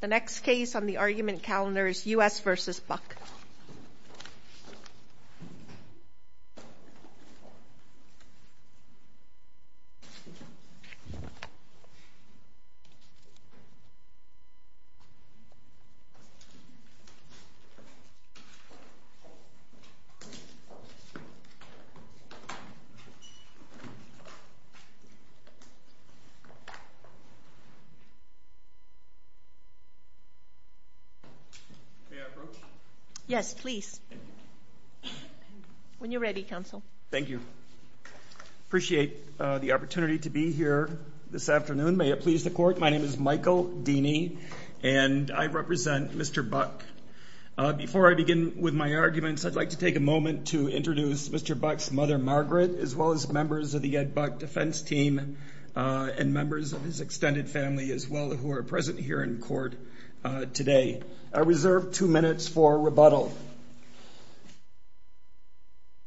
The next case on the argument calendar is U.S. v. Buck May I approach? Yes, please. When you're ready, counsel. Thank you. I appreciate the opportunity to be here this afternoon, may it please the Court. My name is Michael Deany and I represent Mr. Buck. Before I begin with my arguments I'd like to take a moment to introduce Mr. Bucks mother, Margaret, as well as members of the Ed Buck defense team, and members of his extended family as well who are present here in court today. I reserve two minutes for rebuttal.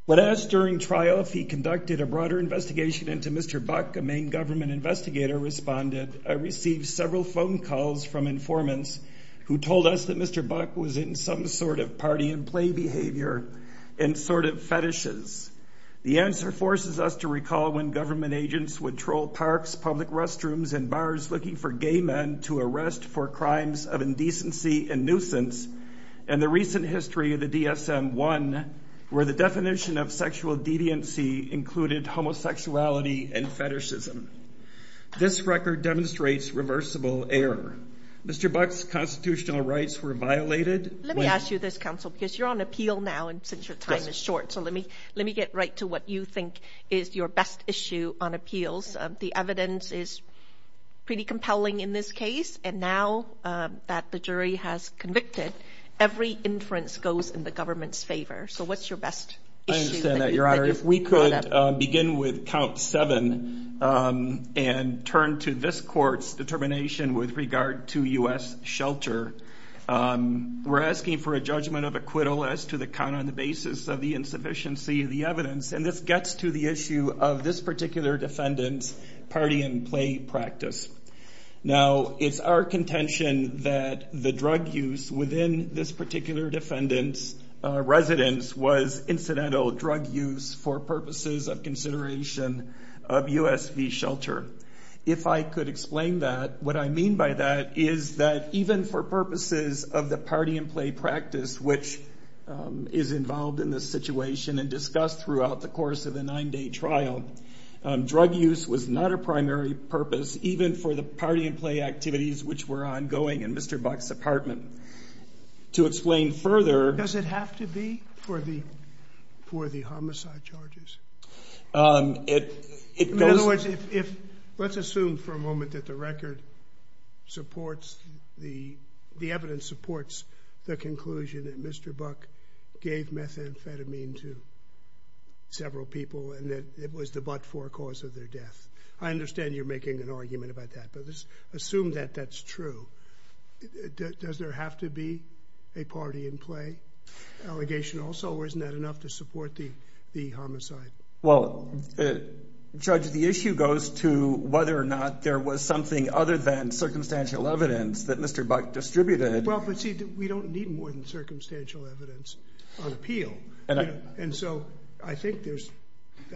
When asked during trial if he conducted a broader investigation into Mr. Buck, a main government investigator responded, I received several phone calls from informants who told us that Mr. Buck was in some sort of party and play behavior and sort of fetishes. The answer forces us to recall when government agents would troll parks, public restrooms, and bars looking for gay men to arrest for crimes of indecency and nuisance, and the recent history of the DSM-1 where the definition of sexual deviancy included homosexuality and fetishism. This record demonstrates reversible error. Mr. Buck's constitutional rights were violated. Let me ask you this, counsel, because you're on appeal now and since your time is short, so let me let me get right to what you think is your best issue on appeals. The evidence is pretty compelling in this case, and now that the jury has convicted, every inference goes in the government's favor. So what's your best issue? I understand that, your honor. If we could begin with count seven and turn to this court's determination with regard to U.S. shelter, we're asking for a judgment of acquittal as to the count on the basis of the insufficiency of the evidence, and this gets to the issue of this particular defendant's party and play practice. Now it's our contention that the drug use within this particular defendant's residence was incidental drug use for purposes of consideration of U.S. shelter. If I could explain that, what I mean by that is that even for purposes of the party and play practice which is involved in this situation and discussed throughout the course of the nine-day trial, drug use was not a primary purpose even for the party and play activities which were ongoing in Mr. Buck's apartment. To explain further... Does it have to be for the for the homicide charges? In other words, if let's assume for a moment that the record supports the the evidence supports the conclusion that Mr. Buck gave methamphetamine to several people and that it was the but-for cause of their death. I understand you're making an argument about that, but let's assume that that's true. Does there have to be a party and play allegation also or isn't that enough to support the the homicide? Well, Judge, the issue goes to whether or not there was something other than circumstantial evidence that Mr. Buck distributed. Well, but see, we don't need more than circumstantial evidence on appeal and so I think there's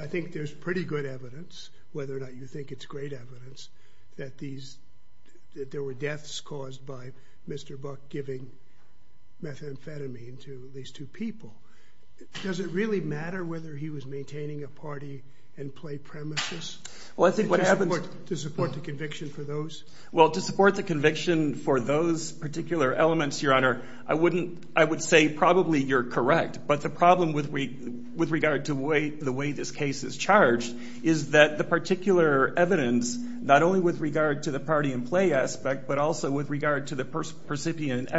I think there's pretty good evidence whether or not you think it's great evidence that there were deaths caused by Mr. Buck giving methamphetamine to these two people. Does it really matter whether he was maintaining a party and play premises? Well, I think what happens... To support the conviction for those? Well, to support the conviction for those particular elements, Your Honor, I wouldn't I would say probably you're correct, but the problem with regard to the way this case is charged is that the particular evidence, not only with regard to the party and play aspect, but also with regard to the percipient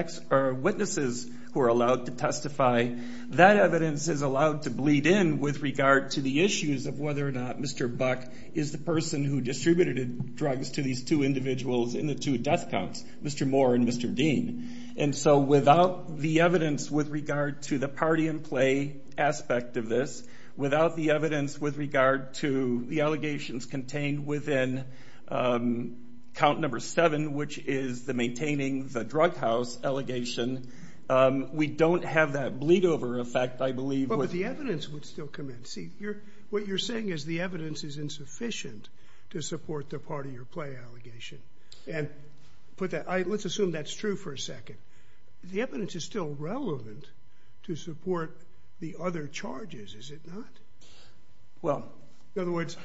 witnesses who are allowed to testify, that evidence is allowed to bleed in with regard to the issues of whether or not Mr. Buck is the person who distributed drugs to these two individuals in the two death counts, Mr. Moore and Mr. Dean. And so without the evidence with regard to the party and play aspect of this, without the evidence with regard to the allegations contained within count number seven, which is the maintaining the drug house allegation, we don't have that bleed-over effect, I believe. But the evidence would still come in. See, what you're saying is the evidence is insufficient to support the party or play allegation. And put that... Let's assume that's true for a second. The evidence is still relevant to support the other charges, is it not? Well... In other words,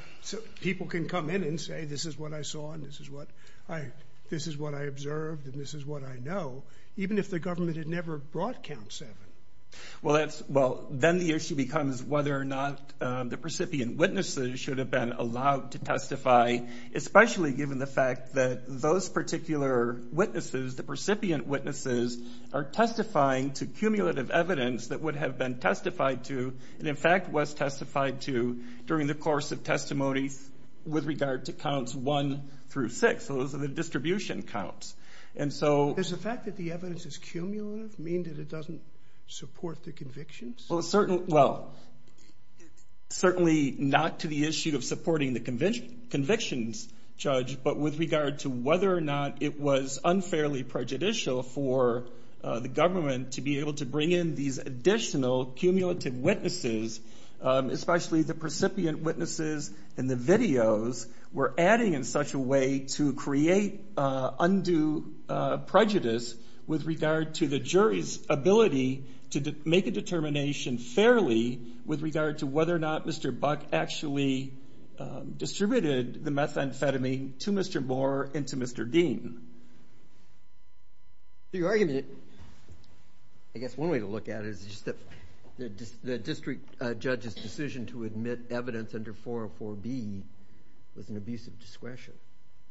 people can come in and say this is what I saw and this is what I observed and this is what I know, even if the government had never brought count seven. Well, that's... Well, then the issue becomes whether or not the recipient witnesses should have been allowed to testify, especially given the fact that those particular witnesses, the recipient witnesses, are testifying to cumulative evidence that would have been testified to and in fact was testified to during the course of testimony with regard to counts one through six. Those are the distribution counts. And so... Is the fact that the evidence is cumulative mean that it doesn't support the convictions? Well, certainly... Well, certainly not to the issue of supporting the convictions, Judge, but with regard to whether or not it was unfairly prejudicial for the government to be able to bring in these additional cumulative witnesses, especially the recipient witnesses and the videos, were adding in such a way to create undue prejudice with regard to the jury's ability to make a determination fairly with regard to whether or not Mr. Buck actually distributed the methamphetamine to Mr. Moore and to Mr. Dean. Your argument... I guess one way to look at it is just that the district judge's decision to admit evidence under 404B was an abusive discretion.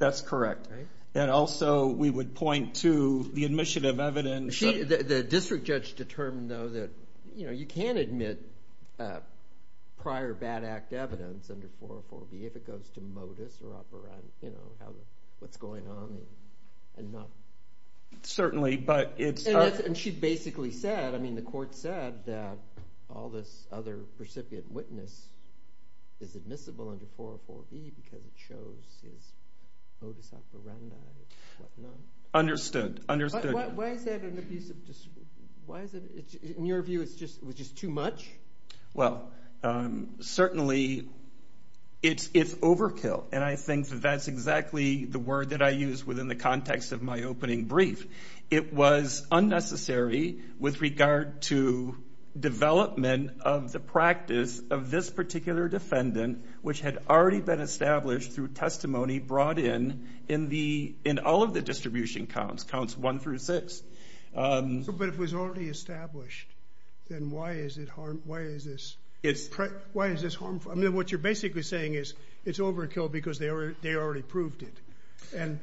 That's correct. And also we would point to the admission of evidence... The district judge determined, though, that you can't admit prior bad act evidence under 404B if it goes to modus operandi, what's going on and not... Certainly, but it's... And she basically said, I mean, the court said that all this other recipient witness is admissible under 404B because it shows his modus operandi and what not. Understood, understood. But why is that an abusive... Why is it... In your view, it's just... It was just too much? Well, certainly it's overkill, and I think that that's exactly the word that I use within the context of my opening brief. It was unnecessary with regard to development of the practice of this particular defendant, which had already been established through testimony brought in in all of the distribution counts, counts one through six. But if it was already established, then why is this harmful? I mean, what you're basically saying is it's overkill because they already proved it. And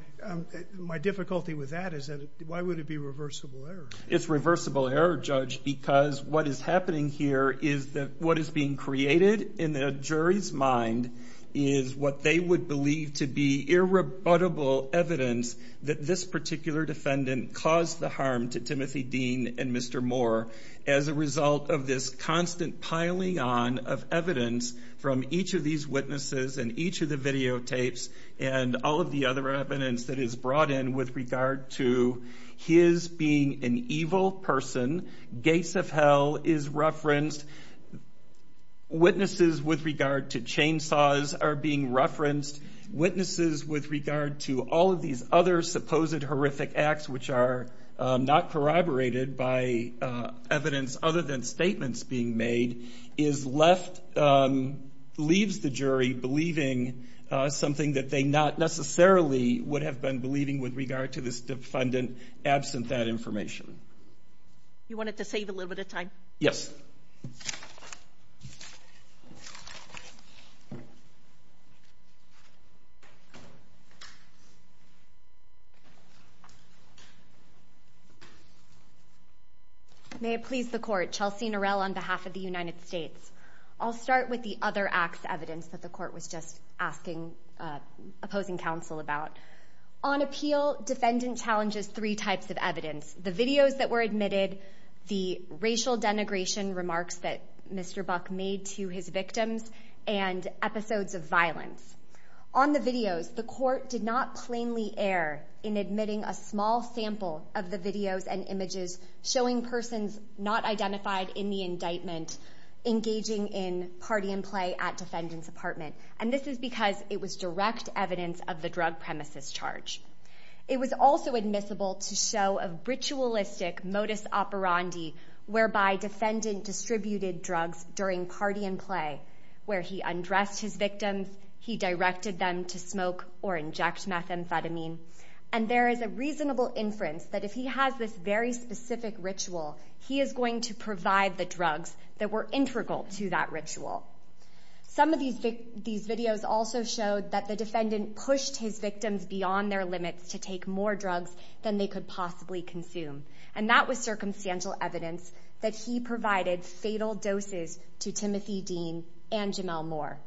my difficulty with that is that why would it be reversible error? It's reversible error, Judge, because what is happening here is that what is being created in the jury's mind is what they would believe to be irrebuttable evidence that this particular defendant caused the harm to Timothy Dean and Mr. Moore as a result of this constant piling on of evidence from each of these witnesses and each of the videotapes and all of the other evidence that is brought in with regard to his being an evil person. Gates of Hell is referenced. Witnesses with regard to chainsaws are being referenced. Witnesses with regard to all of these other supposed horrific acts, which are not corroborated by evidence other than statements being made, is left, leaves the jury believing something that they not necessarily would have been believing with regard to this defendant. Absent that information, you wanted to save a little bit of time. May it please the court Chelsea Norell on behalf of the United States. I'll start with the other acts evidence that the court was just asking opposing counsel about on appeal. Defendant challenges three types of evidence. The videos that were admitted the racial denigration remarks that Mr Buck made to his victims and episodes of violence on the videos. The court did not plainly air in admitting a small sample of the videos and images showing persons not identified in the indictment engaging in party and play at and this is because it was direct evidence of the drug premises charge. It was also admissible to show a ritualistic modus operandi whereby defendant distributed drugs during party and play where he undressed his victims. He directed them to smoke or inject methamphetamine. And there is a reasonable inference that if he has this very specific ritual, he is going to provide the drugs that were integral to that ritual. Some of these videos also showed that the defendant pushed his victims beyond their limits to take more drugs than they could possibly consume. And that was circumstantial evidence that he provided fatal doses to Timothy Dean and Jamel Moore.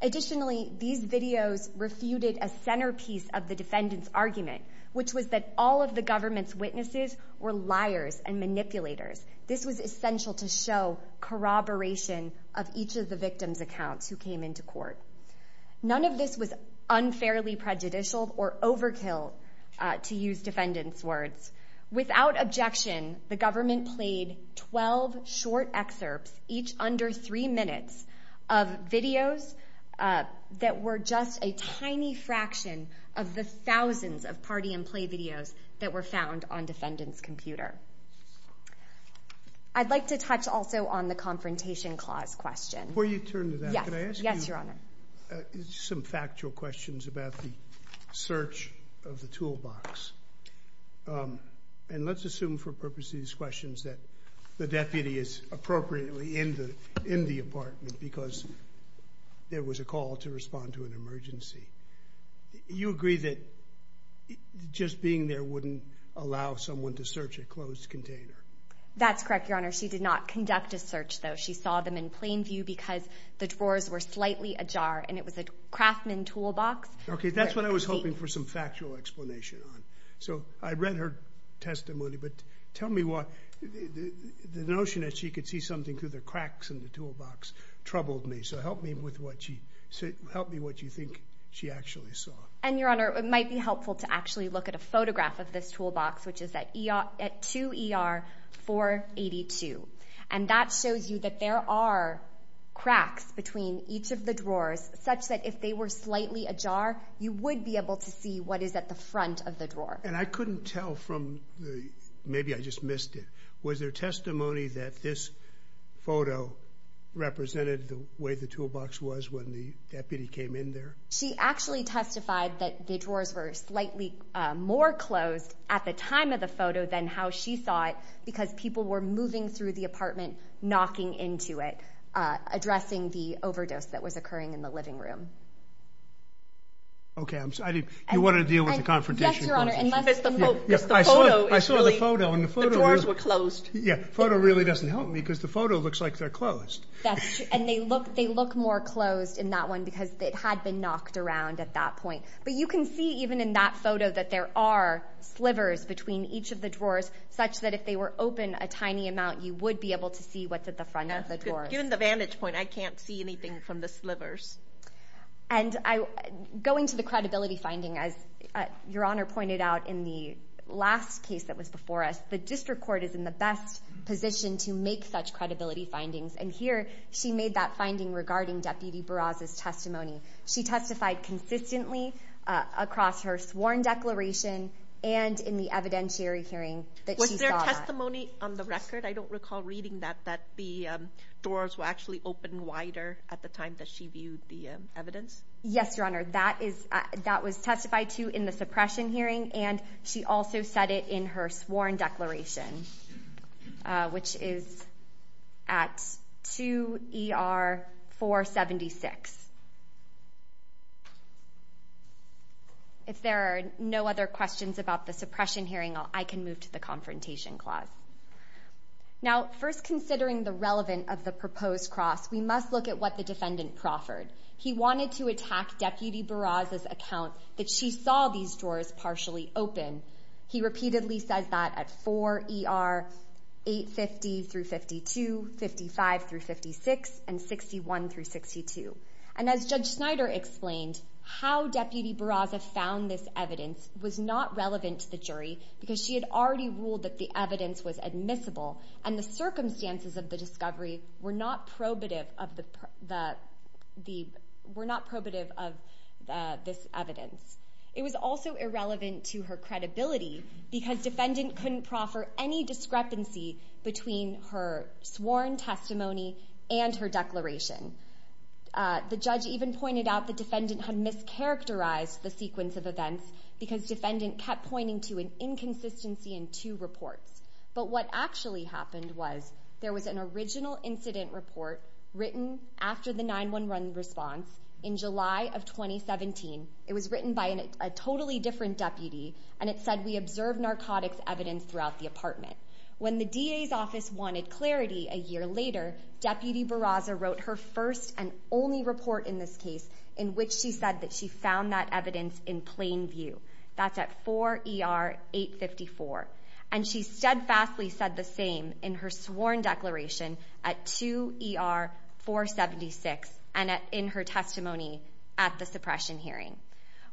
Additionally, these videos refuted a centerpiece of the defendant's argument, which was that all of the government's witnesses were liars and manipulators. This was essential to show corroboration of each of the victim's accounts who came into court. None of this was unfairly prejudicial or overkill, to use defendant's words. Without objection, the government played 12 short excerpts, each under three minutes, of videos that were just a tiny fraction of the thousands of party and play videos that were found on defendant's computer. I'd like to touch also on the Confrontation Clause question. Before you turn to that, could I ask you some factual questions about the search of the toolbox? And let's assume for purposes of these questions that the deputy is appropriately in the apartment because there was a call to respond to an emergency. You agree that just being there wouldn't allow someone to search a closed container? That's correct, Your Honor. She did not conduct a search, though. She saw them in plain view because the drawers were slightly ajar and it was a Craftman toolbox. Okay, that's what I was hoping for some factual explanation on. So I read her testimony, but tell me what... The notion that she could see something through the cracks in the toolbox troubled me, so help me with what she... Help me what you think she actually saw. And Your Honor, it might be helpful to actually look at a photograph of this toolbox, which is at 2 ER 482. And that shows you that there are cracks between each of the drawers, such that if they were slightly ajar, you would be able to see what is at the front of the drawer. And I couldn't tell from the... Maybe I just missed it. Was there testimony that this photo represented the way the toolbox was when the deputy came in there? She actually testified that the drawers were slightly more closed at the time of the photo than how she saw it, because people were moving through the apartment, knocking into it, addressing the overdose that was occurring in the living room. Okay, I'm sorry. You wanna deal with the confrontation? Yes, Your Honor, unless... Yes, the photo is really... I saw the photo and the photo... The drawers were closed. Yeah, photo really doesn't help me because the photo looks like they're closed. That's true. And they look more closed in that one because it had been knocked around at that point. But you can see, even in that photo, that there are slivers between each of the drawers, such that if they were open a tiny amount, you would be able to see what's at the front of the drawers. Given the vantage point, I can't see anything from the slivers. And I... Going to the credibility finding, as Your Honor pointed out in the last case that was before us, the district court is in the best position to make such credibility findings. And here, she made that finding regarding Deputy Barraza's testimony. She testified consistently across her sworn declaration and in the evidentiary hearing that she saw that. Was there testimony on the record? I don't recall reading that, that the doors were actually open wider at the time that she viewed the evidence. Yes, Your Honor. That was testified to in the suppression hearing, and she also said it in her sworn declaration, which is at 2 ER 476. If there are no other questions about the suppression hearing, I can move to the confrontation clause. Now, first, considering the relevant of the proposed cross, we must look at what the defendant proffered. He wanted to attack Deputy Barraza's account that she saw these drawers partially open. He repeatedly says that at 4 ER 850 through 52, 55 through 56, and 61 through 62. And as Judge Snyder explained, how Deputy Barraza found this evidence was not relevant to the jury because she had already ruled that the evidence was admissible, and the circumstances of the discovery were not probative of the... Were not probative of this evidence. It was also irrelevant to her credibility because defendant couldn't proffer any discrepancy between her sworn testimony and her declaration. The judge even pointed out the defendant had mischaracterized the sequence of events because defendant kept pointing to an inconsistency in two reports. But what actually happened was there was an original incident report written after the 911 response in July of 2017. It was written by a totally different deputy, and it said, we observed narcotics evidence throughout the apartment. When the DA's office wanted clarity a year later, Deputy Barraza wrote her first and only report in this case in which she said that she found that evidence in plain view. That's at 4 ER 854. And she steadfastly said the same in her sworn declaration at 2 ER 476 and in her testimony at the suppression hearing.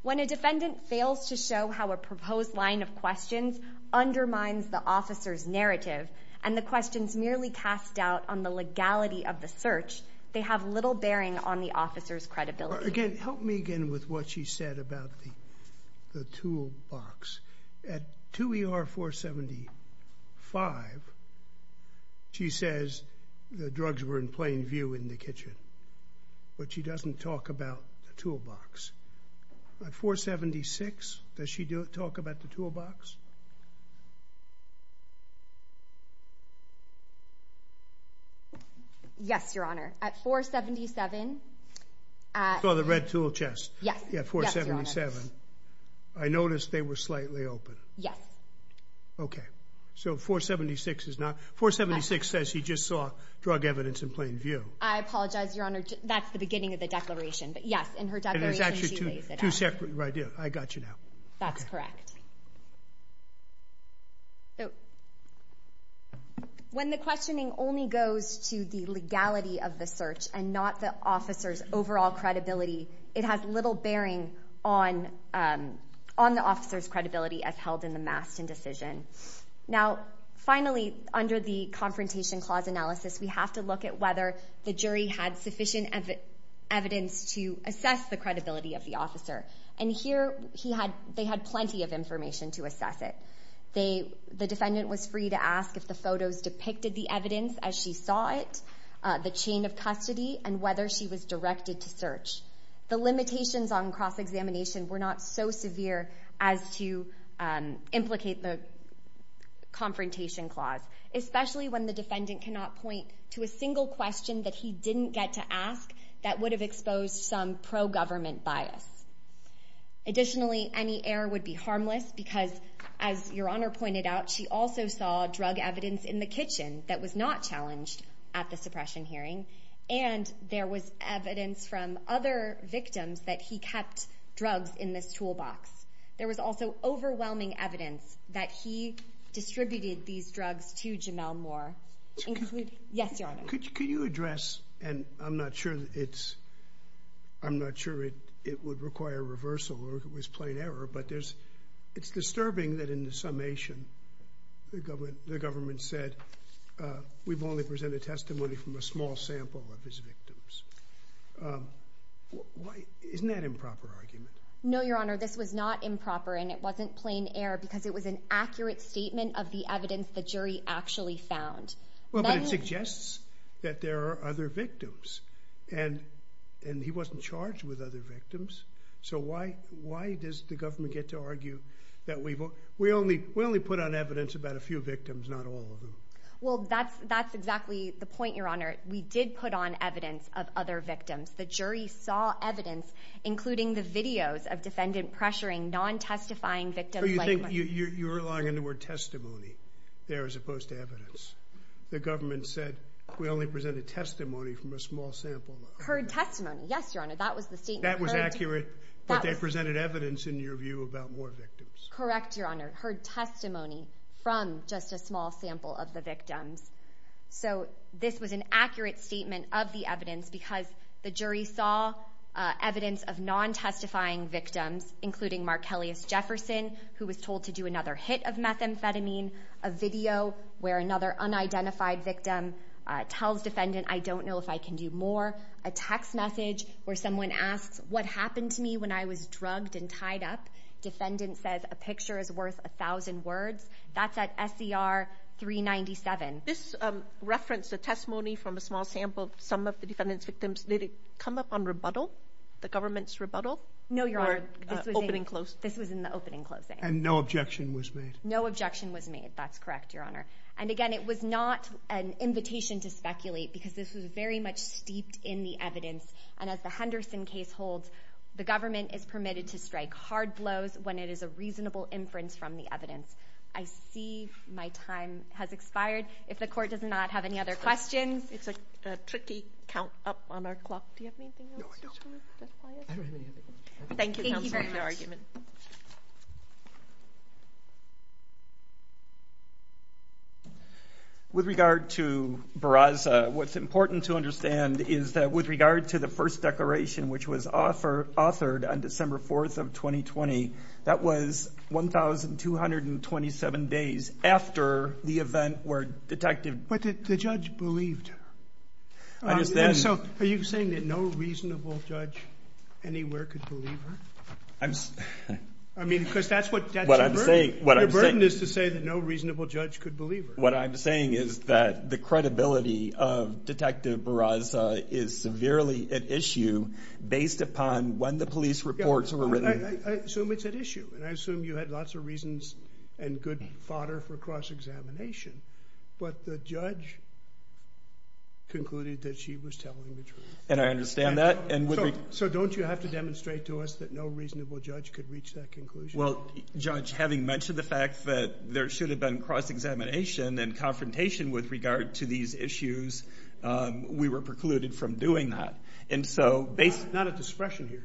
When a defendant fails to show how a proposed line of questions undermines the officer's narrative, and the questions merely cast doubt on the legality of the search, they have little bearing on the officer's credibility. Again, help me again with what she said about the toolbox. At 2 ER 475, she says the drugs were in plain view in the kitchen, but she doesn't talk about the toolbox. At 476, does she talk about the toolbox? Yes, Your Honor. At 477... I saw the red tool chest. Yes. At 477, I noticed they were slightly open. Yes. Okay. So 476 is not... 476 says she just saw drug evidence in plain view. I apologize, Your Honor. That's the beginning of the declaration. But yes, in her declaration, she lays it out. And there's actually two separate... Right, yeah. I got you now. That's correct. When the questioning only goes to the legality of the search and not the officer's overall credibility, it has little bearing on the officer's credibility as held in the Maston decision. Now, finally, under the Confrontation Clause Analysis, we have to look at whether the jury had sufficient evidence to assess the credibility of the officer. And here, they had plenty of information to assess it. The defendant was free to ask if the photos depicted the evidence as she saw it, the chain of custody, and whether she was directed to search. The limitations on cross examination were not so severe as to implicate the confrontation clause, especially when the defendant cannot point to a single question that he didn't get to ask that would have exposed some pro government bias. Additionally, any error would be harmless because, as Your Honor pointed out, she also saw drug evidence in the kitchen that was not challenged at the suppression hearing, and there was evidence from other victims that he kept drugs in this toolbox. There was also overwhelming evidence that he distributed these drugs to Jamel Moore, including... Yes, Your Honor. Could you address, and I'm not sure it's... I'm not sure it would require reversal or if it was plain error, but there's... It's disturbing that in the summation, the government said, we've only presented testimony from a small sample of his victims. Isn't that an improper argument? No, Your Honor, this was not improper and it wasn't plain error because it was an accurate statement of the evidence the jury actually found. Well, but it suggests that there are other victims, and he wasn't charged with other victims, so why does the government get to argue that we've... We only put on evidence about a few of them? Well, that's exactly the point, Your Honor. We did put on evidence of other victims. The jury saw evidence, including the videos of defendant pressuring non testifying victims... So you think you're relying on the word testimony there as opposed to evidence. The government said, we only presented testimony from a small sample. Heard testimony. Yes, Your Honor, that was the statement... That was accurate, but they presented evidence, in your view, about more victims. Correct, Your Honor. Heard testimony from just a small sample of the victims. So this was an accurate statement of the evidence because the jury saw evidence of non testifying victims, including Markelius Jefferson, who was told to do another hit of methamphetamine, a video where another unidentified victim tells defendant, I don't know if I can do more, a text message where someone asks, what happened to me when I was drugged and tied up? Defendant says, a picture is worth a thousand words. That's at SCR 397. This referenced a testimony from a small sample of some of the defendant's victims. Did it come up on rebuttal, the government's rebuttal? No, Your Honor. Or opening closing? This was in the opening closing. And no objection was made? No objection was made. That's correct, Your Honor. And again, it was not an invitation to speculate because this was very much steeped in the evidence. And as the Henderson case holds, the government is permitted to strike hard blows when it is a reasonable inference from the evidence. I see my time has expired. If the court does not have any other questions... It's a tricky count up on our clock. Do you have anything else? No, I don't. Thank you, counsel, for your argument. With regard to Barraza, what's important to understand is that with regard to the first declaration, which was authored on December 4th of 2020, that was 1,227 days after the event where Detective... But the judge believed her. I understand. And so are you saying that no reasonable judge anywhere could believe her? I mean, because that's what... That's your burden. Your burden is to say that no reasonable judge could believe her. What I'm saying is that the credibility of Detective Barraza is severely at issue based upon when the police reports were written. I assume it's at issue, and I assume you had lots of reasons and good fodder for cross examination, but the judge concluded that she was telling the truth. And I understand that. So don't you have to demonstrate to us that no reasonable judge could reach that conclusion? Well, Judge, having mentioned the fact that there should have been cross examination and confrontation with regard to these issues, we were precluded from doing that. And so... Not at the suppression hearing.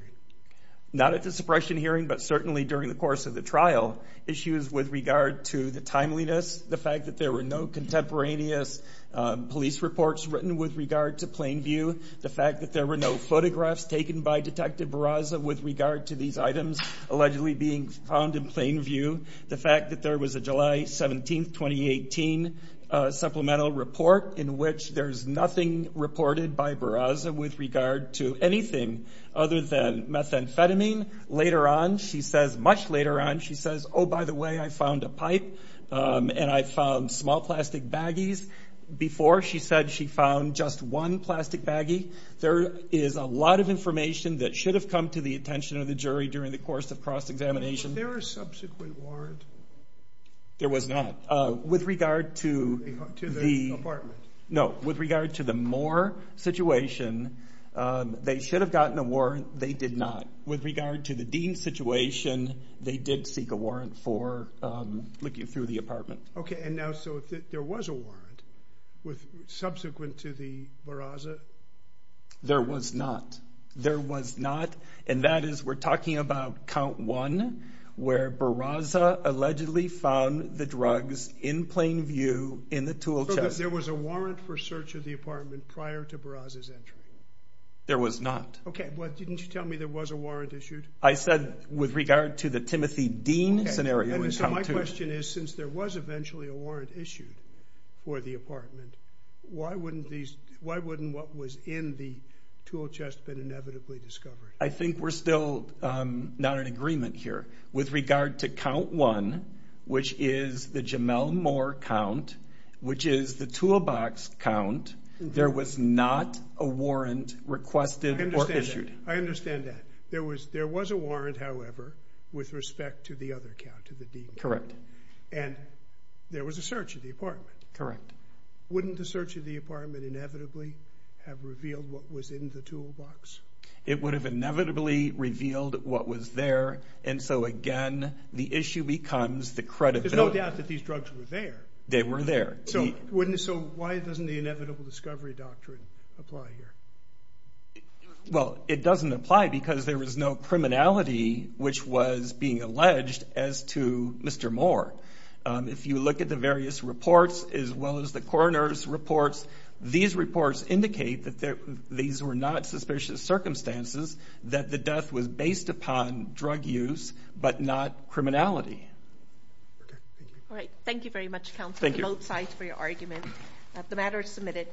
Not at the suppression hearing, but certainly during the course of the trial. Issues with regard to the timeliness, the fact that there were no contemporaneous police reports written with regard to Plainview, the fact that there were no photographs taken by Detective Barraza with regard to these items allegedly being found in Plainview, the fact that there was a July 17th, 2018 supplemental report in which there's nothing reported by Barraza with regard to anything other than methamphetamine. Later on, she says, much later on, she says, Oh, by the way, I found a pipe and I found small plastic baggies. Before, she said she found just one plastic baggie. There is a lot of information that should have come to the attention of the jury during the course of cross examination. Was there a subsequent warrant? There was not. With regard to the... To the apartment. No. With regard to the Moore situation, they should have gotten a warrant. They did not. With regard to the Dean situation, they did seek a warrant for looking through the apartment. Okay. And now, so if there was a warrant with subsequent to the Barraza? There was not. There was not. And that is, we're talking about count one, where Barraza allegedly found the drugs in Plainview in the tool chest. So there was a warrant for search of the apartment prior to Barraza's entry? There was not. Okay. But didn't you tell me there was a warrant issued? I said, with regard to the Timothy Dean scenario in count two. Okay. Anyway, so my question is, since there was eventually a warrant issued for the apartment, why wouldn't these... Why wouldn't what was in the tool chest been inevitably discovered? I think we're still not in agreement here. With regard to count one, which is the Jamel Moore count, which is the toolbox count, there was not a warrant requested or issued. I understand that. I understand that. There was a warrant, however, with respect to the other count, to the Dean. Correct. And there was a search of the apartment. Correct. Wouldn't the search of the apartment inevitably have revealed what was in the toolbox? It would have inevitably revealed what was there. And so again, the issue becomes the credibility... There's no doubt that these drugs were there. They were there. So why doesn't the inevitable discovery doctrine apply here? Well, it doesn't apply because there was no criminality which was being alleged as to Mr. Moore. If you look at the various reports, as well as the coroner's reports, these reports indicate that these were not suspicious circumstances, that the death was based upon drug use but not criminality. Okay. Thank you. All right. Thank you very much, counsel. Thank you. I'm both sides for your argument. The matter is submitted.